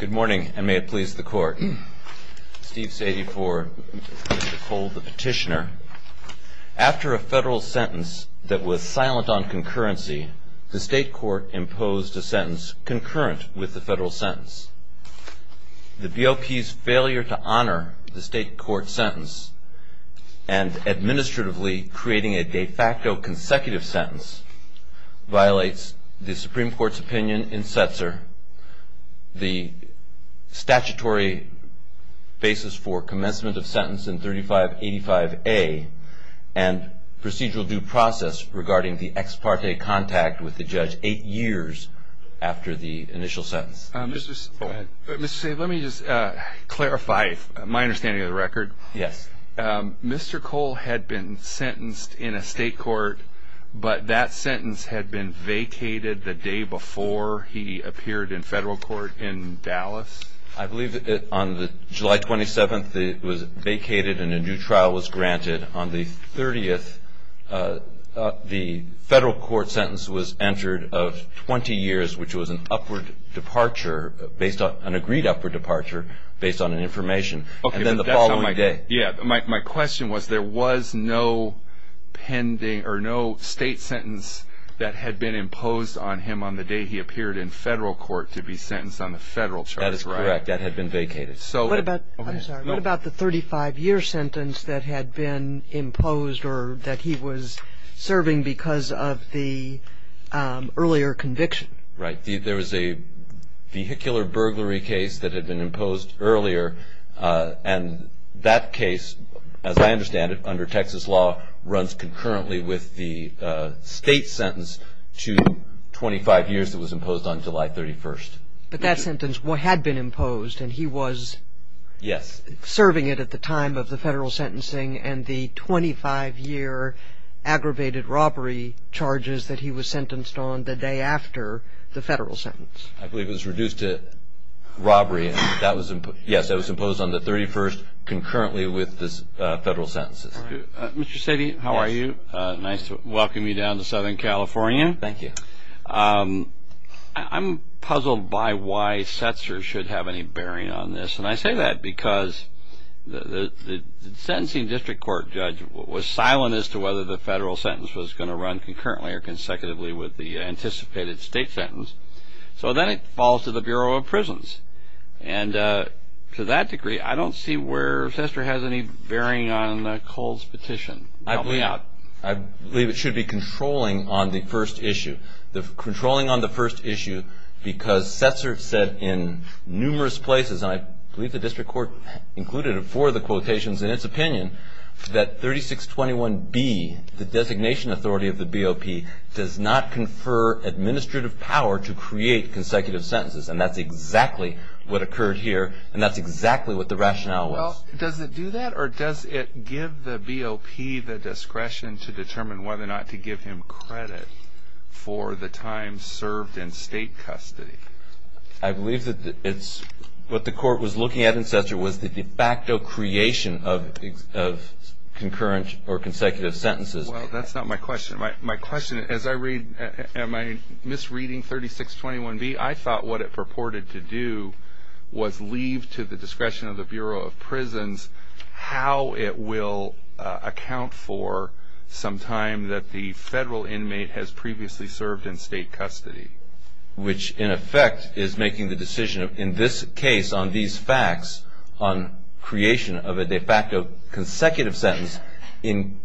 Good morning and may it please the court. Steve Sadie for Mr. Cole, the petitioner. After a federal sentence that was silent on concurrency, the state court imposed a sentence concurrent with the federal sentence. The BOP's failure to honor the state court sentence and administratively creating a de facto consecutive sentence violates the Supreme Court's opinion in Setzer, the statutory basis for commencement of sentence in 3585A, and procedural due process regarding the ex parte contact with the judge eight years after the initial sentence. Mr. Sadie, let me just clarify my understanding of the record. Yes. Mr. Cole had been sentenced in a state court, but that sentence had been vacated the day before he appeared in federal court in Dallas? I believe on July 27th it was vacated and a new trial was granted. On the 30th, the federal court sentence was entered of 20 years, which was an upward departure, an agreed upward departure based on information. My question was there was no state sentence that had been imposed on him on the day he appeared in federal court to be sentenced on the federal charge. That is correct. That had been vacated. What about the 35-year sentence that had been imposed or that he was serving because of the earlier conviction? Right. There was a vehicular burglary case that had been imposed earlier and that case, as I understand it, under Texas law, runs concurrently with the state sentence to 25 years that was imposed on July 31st. But that sentence had been imposed and he was serving it at the time of the federal sentencing and the 25-year aggravated robbery charges that he was sentenced on the day after the federal sentence. I believe it was reduced to robbery. Yes, that was imposed on the 31st concurrently with the federal sentences. Mr. Sadie, how are you? Nice to welcome you down to Southern California. Thank you. I'm puzzled by why Setzer should have any bearing on this, and I say that because the sentencing district court judge was silent as to whether the federal sentence was going to run concurrently or consecutively with the anticipated state sentence. So then it falls to the Bureau of Prisons. And to that degree, I don't see where Setzer has any bearing on Cole's petition. Help me out. I believe it should be controlling on the first issue. Controlling on the first issue because Setzer said in numerous places, and I believe the district court included it for the quotations in its opinion, that 3621B, the designation authority of the BOP, does not confer administrative power to create consecutive sentences. And that's exactly what occurred here, and that's exactly what the rationale was. Well, does it do that, or does it give the BOP the discretion to determine whether or not to give him credit for the time served in state custody? I believe that what the court was looking at in Setzer was the de facto creation of concurrent or consecutive sentences. Well, that's not my question. My question, as I read, am I misreading 3621B? I thought what it purported to do was leave to the discretion of the Bureau of Prisons how it will account for some time that the federal inmate has previously served in state custody. Which, in effect, is making the decision in this case on these facts on creation of a de facto consecutive sentence in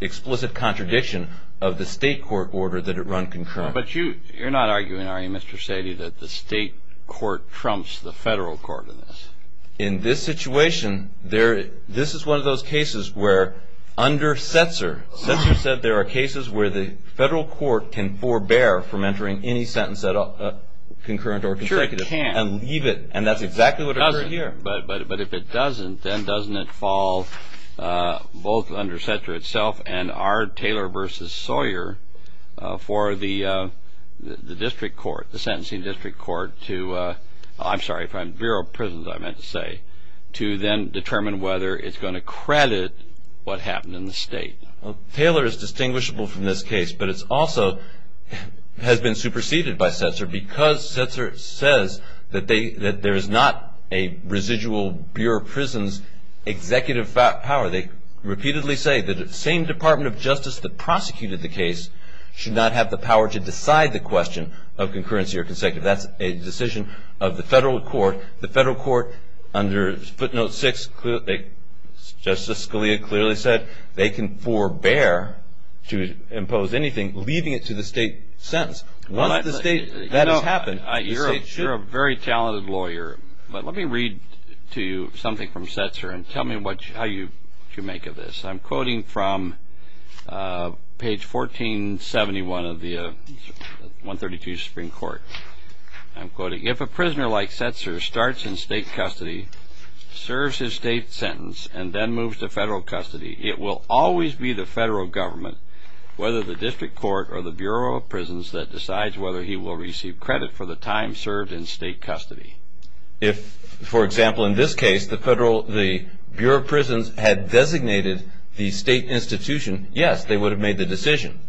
explicit contradiction of the state court order that it run concurrently. But you're not arguing, are you, Mr. Sadie, that the state court trumps the federal court in this? In this situation, this is one of those cases where under Setzer, Setzer said there are cases where the federal court can forbear from entering any sentence that are concurrent or consecutive and leave it. And that's exactly what occurred here. But if it doesn't, then doesn't it fall both under Setzer itself and our Taylor v. Sawyer for the district court, the sentencing district court to, I'm sorry, from Bureau of Prisons I meant to say, to then determine whether it's going to credit what happened in the state. Taylor is distinguishable from this case, but it also has been superseded by Setzer because Setzer says that there is not a residual Bureau of Prisons executive power. They repeatedly say that the same Department of Justice that prosecuted the case should not have the power to decide the question of concurrency or consecutive. That's a decision of the federal court. The federal court under footnote six, Justice Scalia clearly said they can forbear to impose anything leaving it to the state sentence. Once that has happened, the state should. You're a very talented lawyer, but let me read to you something from Setzer and tell me how you make of this. I'm quoting from page 1471 of the 132 Supreme Court. I'm quoting, if a prisoner like Setzer starts in state custody, serves his state sentence, and then moves to federal custody, it will always be the federal government, whether the district court or the Bureau of Prisons that decides whether he will receive credit for the time served in state custody. If, for example, in this case, the Bureau of Prisons had designated the state institution, yes, they would have made the decision.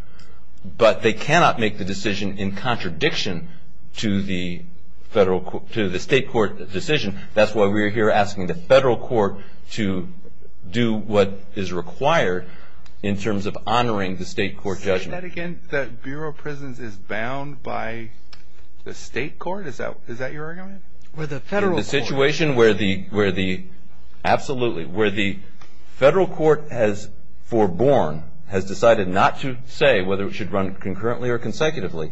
But they cannot make the decision in contradiction to the state court decision. That's why we're here asking the federal court to do what is required in terms of honoring the state court judgment. Say that again? That Bureau of Prisons is bound by the state court? Is that your argument? In the situation where the federal court has foreborn, has decided not to say whether it should run concurrently or consecutively,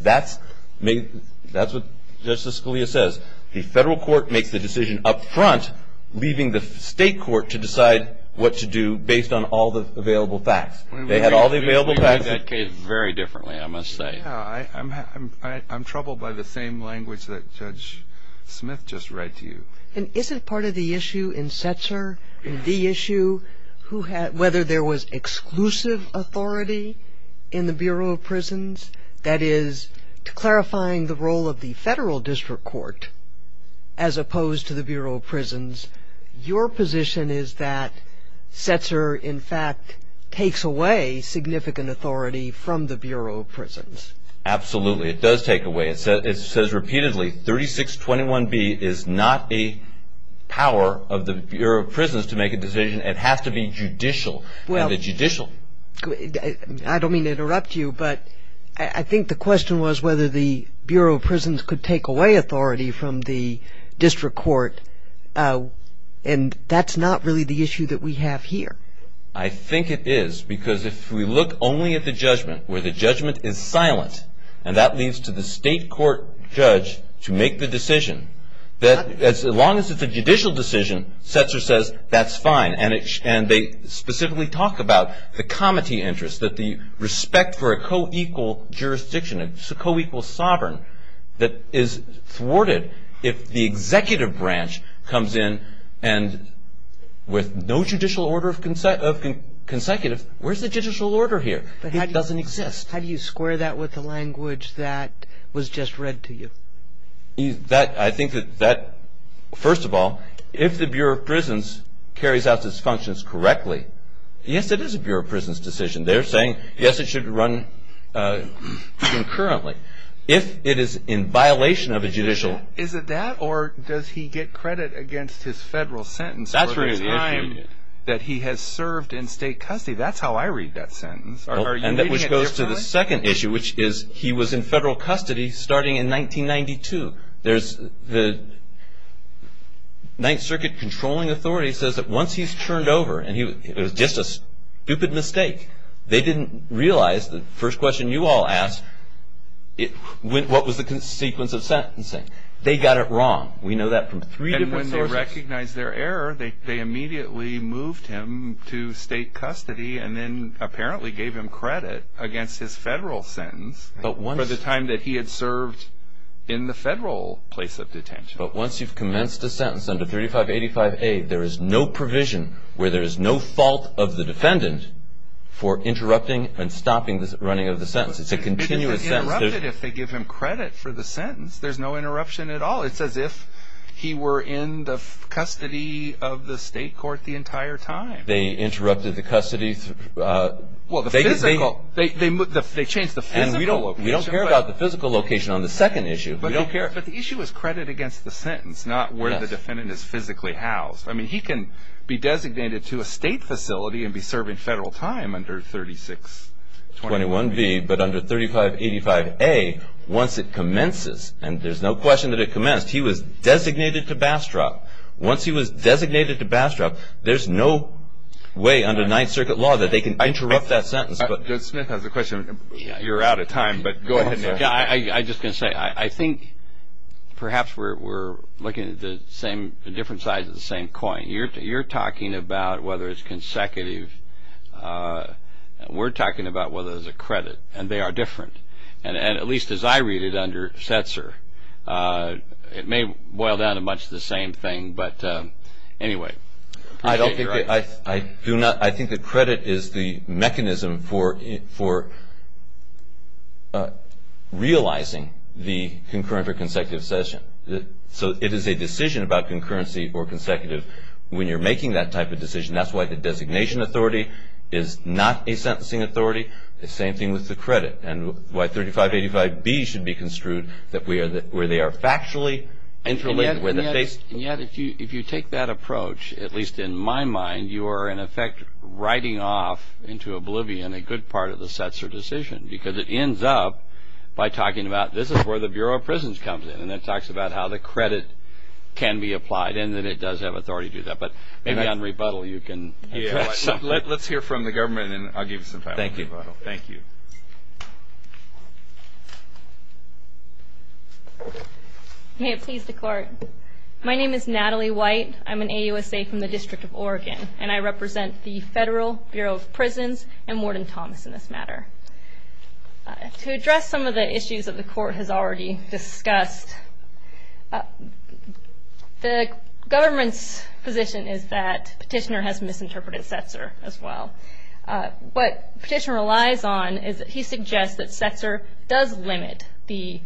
that's what Justice Scalia says. The federal court makes the decision up front, leaving the state court to decide what to do based on all the available facts. They had all the available facts. We read that case very differently, I must say. I'm troubled by the same language that Judge Smith just read to you. And isn't part of the issue in Setzer, in the issue, whether there was exclusive authority in the Bureau of Prisons? That is, clarifying the role of the federal district court as opposed to the Bureau of Prisons, your position is that Setzer, in fact, takes away significant authority from the Bureau of Prisons. Absolutely. It does take away. It says repeatedly, 3621B is not the power of the Bureau of Prisons to make a decision. It has to be judicial and the judicial. I don't mean to interrupt you, but I think the question was whether the Bureau of Prisons could take away authority from the district court, and that's not really the issue that we have here. I think it is, because if we look only at the judgment, where the judgment is silent, and that leads to the state court judge to make the decision, as long as it's a judicial decision, Setzer says, that's fine. And they specifically talk about the comity interest, that the respect for a co-equal jurisdiction, a co-equal sovereign that is thwarted if the executive branch comes in and with no judicial order of consecutive, where's the judicial order here? It doesn't exist. How do you square that with the language that was just read to you? I think that, first of all, if the Bureau of Prisons carries out its functions correctly, yes, it is a Bureau of Prisons decision. They're saying, yes, it should run concurrently. If it is in violation of a judicial. Is it that, or does he get credit against his federal sentence for the time that he has served in state custody? That's how I read that sentence. And that goes to the second issue, which is he was in federal custody starting in 1992. The Ninth Circuit controlling authority says that once he's turned over, and it was just a stupid mistake, they didn't realize the first question you all asked, what was the sequence of sentencing? They got it wrong. We know that from three different sources. And when they recognized their error, they immediately moved him to state custody and then apparently gave him credit against his federal sentence for the time that he had served in the federal place of detention. But once you've commenced a sentence under 3585A, there is no provision where there is no fault of the defendant for interrupting and stopping the running of the sentence. It's a continuous sentence. But they interrupted if they give him credit for the sentence. There's no interruption at all. It's as if he were in the custody of the state court the entire time. They interrupted the custody. They changed the physical location. And we don't care about the physical location on the second issue. We don't care. But the issue is credit against the sentence, not where the defendant is physically housed. I mean, he can be designated to a state facility and be serving federal time under 3621B. But under 3585A, once it commences, and there's no question that it commenced, he was designated to Bastrop. Once he was designated to Bastrop, there's no way under Ninth Circuit law that they can interrupt that sentence. Smith has a question. You're out of time, but go ahead. I'm just going to say, I think perhaps we're looking at the different sides of the same coin. You're talking about whether it's consecutive. We're talking about whether there's a credit. And they are different. And at least as I read it under Setzer, it may boil down to much the same thing. But anyway. I don't think that the credit is the mechanism for realizing the concurrent or consecutive session. So it is a decision about concurrency or consecutive. When you're making that type of decision, that's why the designation authority is not a sentencing authority. The same thing with the credit. And why 3585B should be construed where they are factually interlinked. And yet if you take that approach, at least in my mind, you are in effect writing off into oblivion a good part of the Setzer decision. Because it ends up by talking about this is where the Bureau of Prisons comes in. And it talks about how the credit can be applied. And that it does have authority to do that. But maybe on rebuttal you can address something. Let's hear from the government and I'll give you some time on rebuttal. Thank you. May it please the Court. My name is Natalie White. I'm an AUSA from the District of Oregon. And I represent the Federal Bureau of Prisons and Warden Thomas in this matter. To address some of the issues that the Court has already discussed, the government's position is that Petitioner has misinterpreted Setzer as well. What Petitioner relies on is that he suggests that Setzer does limit the,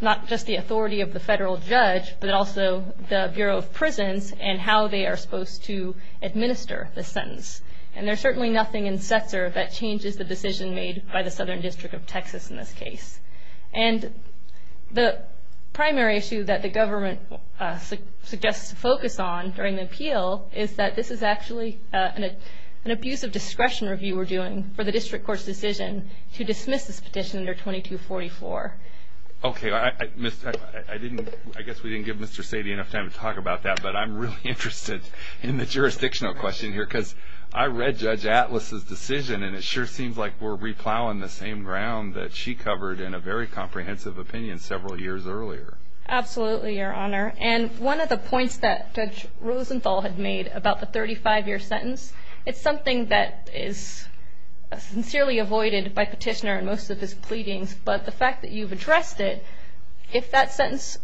not just the authority of the federal judge, but also the Bureau of Prisons and how they are supposed to administer the sentence. And there's certainly nothing in Setzer that changes the decision made by the Southern District of Texas in this case. And the primary issue that the government suggests to focus on during the appeal is that this is actually an abuse of discretion review we're doing for the District Court's decision to dismiss this petition under 2244. Okay. I didn't, I guess we didn't give Mr. Sadie enough time to talk about that. But I'm really interested in the jurisdictional question here. Because I read Judge Atlas' decision and it sure seems like we're replowing the same ground that she covered in a very comprehensive opinion several years earlier. Absolutely, Your Honor. And one of the points that Judge Rosenthal had made about the 35-year sentence, it's something that is sincerely avoided by Petitioner in most of his pleadings. But the fact that you've addressed it, if that sentence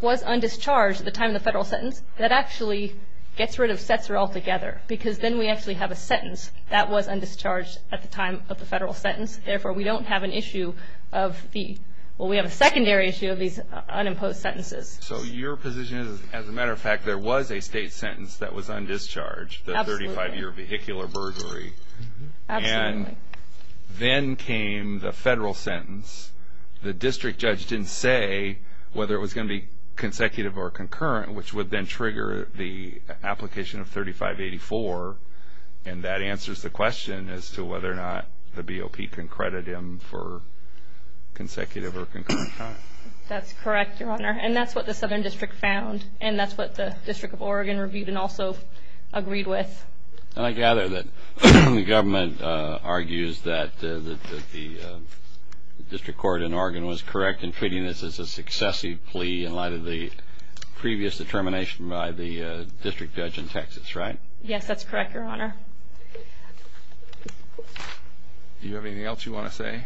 was undischarged at the time of the federal sentence, that actually gets rid of Setzer altogether. Because then we actually have a sentence that was undischarged at the time of the federal sentence and therefore we don't have an issue of the, well we have a secondary issue of these unimposed sentences. So your position is, as a matter of fact, there was a state sentence that was undischarged, the 35-year vehicular burglary. Absolutely. And then came the federal sentence. The district judge didn't say whether it was going to be consecutive or concurrent, which would then trigger the application of 3584. And that answers the question as to whether or not the BOP can credit him for consecutive or concurrent time. That's correct, Your Honor. And that's what the Southern District found. And that's what the District of Oregon reviewed and also agreed with. And I gather that the government argues that the District Court in Oregon was correct in treating this as a successive plea in light of the previous determination by the district judge in Texas, right? Yes, that's correct, Your Honor. Do you have anything else you want to say?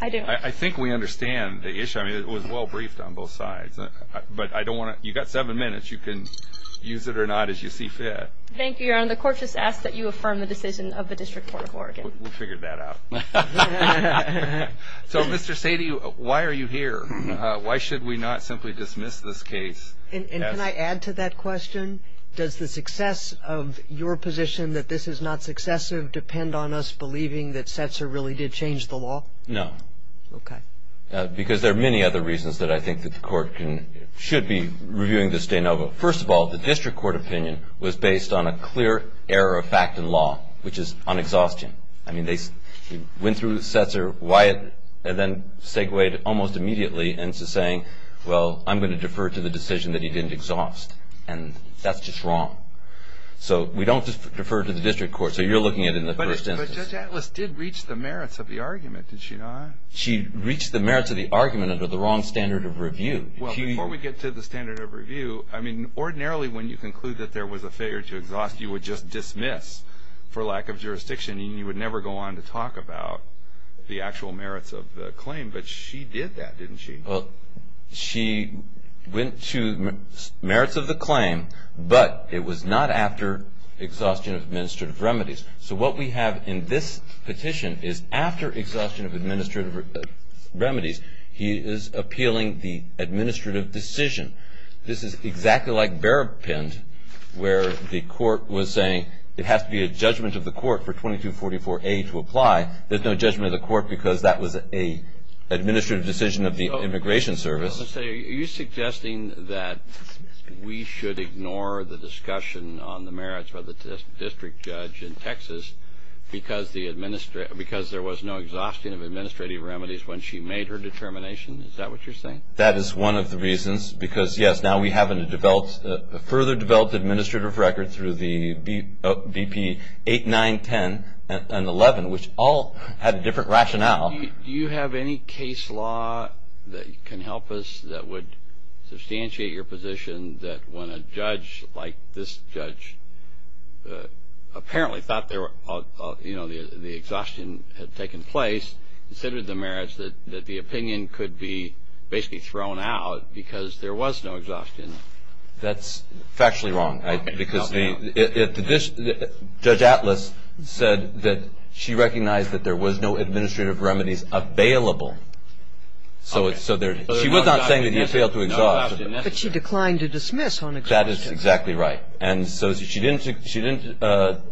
I do. I think we understand the issue. I mean, it was well briefed on both sides. But I don't want to, you've got seven minutes. You can use it or not as you see fit. Thank you, Your Honor. The court just asks that you affirm the decision of the District Court of Oregon. We'll figure that out. So, Mr. Sadie, why are you here? Why should we not simply dismiss this case? And can I add to that question? Does the success of your position that this is not successive depend on us believing that Setzer really did change the law? No. Okay. Because there are many other reasons that I think that the court should be reviewing this de novo. First of all, the District Court opinion was based on a clear error of fact in law, which is on exhaustion. I mean, they went through Setzer. Wyatt then segued almost immediately into saying, well, I'm going to defer to the decision that he didn't exhaust. And that's just wrong. So we don't defer to the District Court. So you're looking at it in the first instance. But Judge Atlas did reach the merits of the argument, did she not? She reached the merits of the argument under the wrong standard of review. Well, before we get to the standard of review, I mean, ordinarily when you conclude that there was a failure to exhaust, you would just dismiss for lack of jurisdiction, and you would never go on to talk about the actual merits of the claim. But she did that, didn't she? Well, she went to merits of the claim, but it was not after exhaustion of administrative remedies. So what we have in this petition is after exhaustion of administrative remedies, he is appealing the administrative decision. This is exactly like Berrapind, where the court was saying it has to be a judgment of the court for 2244A to apply. There's no judgment of the court because that was an administrative decision of the Immigration Service. Are you suggesting that we should ignore the discussion on the merits by the District Judge in Texas because there was no exhaustion of administrative remedies when she made her determination? Is that what you're saying? That is one of the reasons because, yes, now we have a further developed administrative record through the BP 8910 and 11, which all had a different rationale. Do you have any case law that can help us that would substantiate your position that when a judge like this judge apparently thought the exhaustion had taken place, considered the merits that the opinion could be basically thrown out because there was no exhaustion? That's factually wrong. Judge Atlas said that she recognized that there was no administrative remedies available. She was not saying that you failed to exhaust. But she declined to dismiss on exhaustion. That is exactly right. She didn't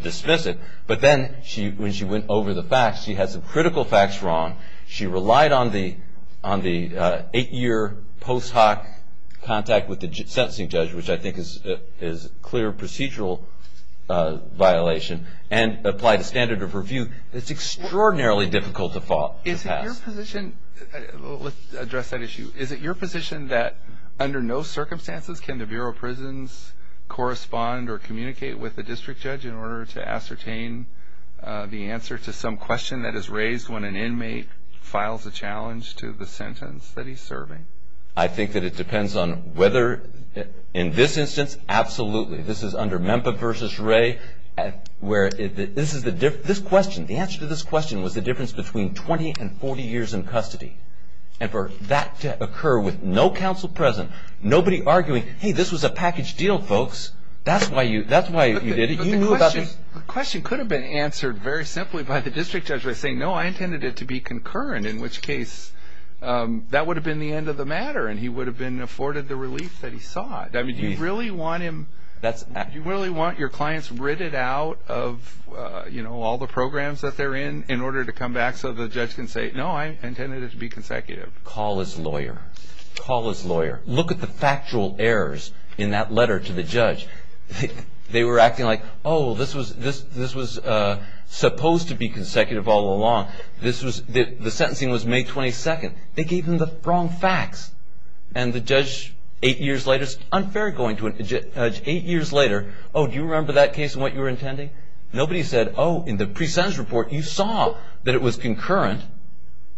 dismiss it, but then when she went over the facts, she had some critical facts wrong. She relied on the eight-year post hoc contact with the sentencing judge, which I think is a clear procedural violation, and applied a standard of review. It's extraordinarily difficult to pass. Let's address that issue. Is it your position that under no circumstances can the Bureau of Prisons correspond or communicate with the district judge in order to ascertain the answer to some question that is raised when an inmate files a challenge to the sentence that he's serving? I think that it depends on whether, in this instance, absolutely. This is under Memphis v. Ray. The answer to this question was the difference between 20 and 40 years in custody. And for that to occur with no counsel present, nobody arguing, hey, this was a package deal, folks. That's why you did it. The question could have been answered very simply by the district judge by saying, no, I intended it to be concurrent, in which case that would have been the end of the matter and he would have been afforded the relief that he sought. I mean, do you really want your clients ridded out of all the programs that they're in in order to come back so the judge can say, no, I intended it to be consecutive? Call his lawyer. They were acting like, oh, this was supposed to be consecutive all along. The sentencing was May 22nd. They gave him the wrong facts. And the judge, eight years later, it's unfair going to a judge eight years later, oh, do you remember that case and what you were intending? Nobody said, oh, in the pre-sentence report you saw that it was concurrent.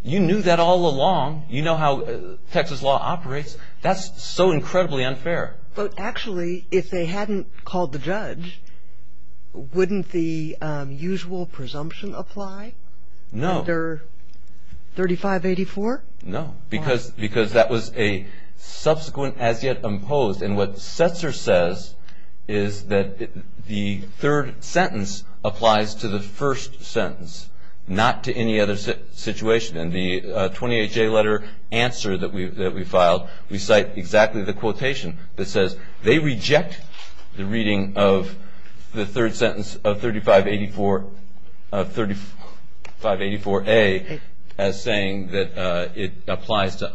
You knew that all along. You know how Texas law operates. That's so incredibly unfair. But actually, if they hadn't called the judge, wouldn't the usual presumption apply? No. Under 3584? No, because that was a subsequent as yet imposed. And what Setzer says is that the third sentence applies to the first sentence, not to any other situation. And the 28J letter answer that we filed, we cite exactly the quotation that says, they reject the reading of the third sentence of 3584A as saying that it applies to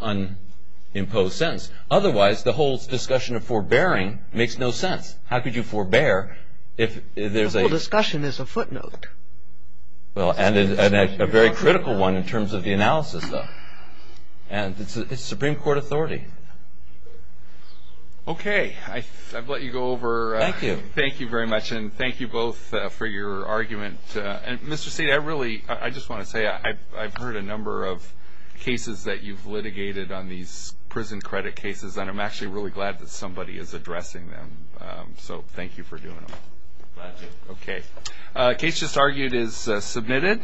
unimposed sentence. Otherwise, the whole discussion of forbearing makes no sense. How could you forbear if there's a ‑‑ The whole discussion is a footnote. Well, and a very critical one in terms of the analysis, though. And it's Supreme Court authority. Okay. I've let you go over. Thank you. Thank you very much. And thank you both for your argument. And, Mr. Seed, I really ‑‑ I just want to say I've heard a number of cases that you've litigated on these prison credit cases, and I'm actually really glad that somebody is addressing them. So thank you for doing them. Glad to. Okay. The case just argued is submitted.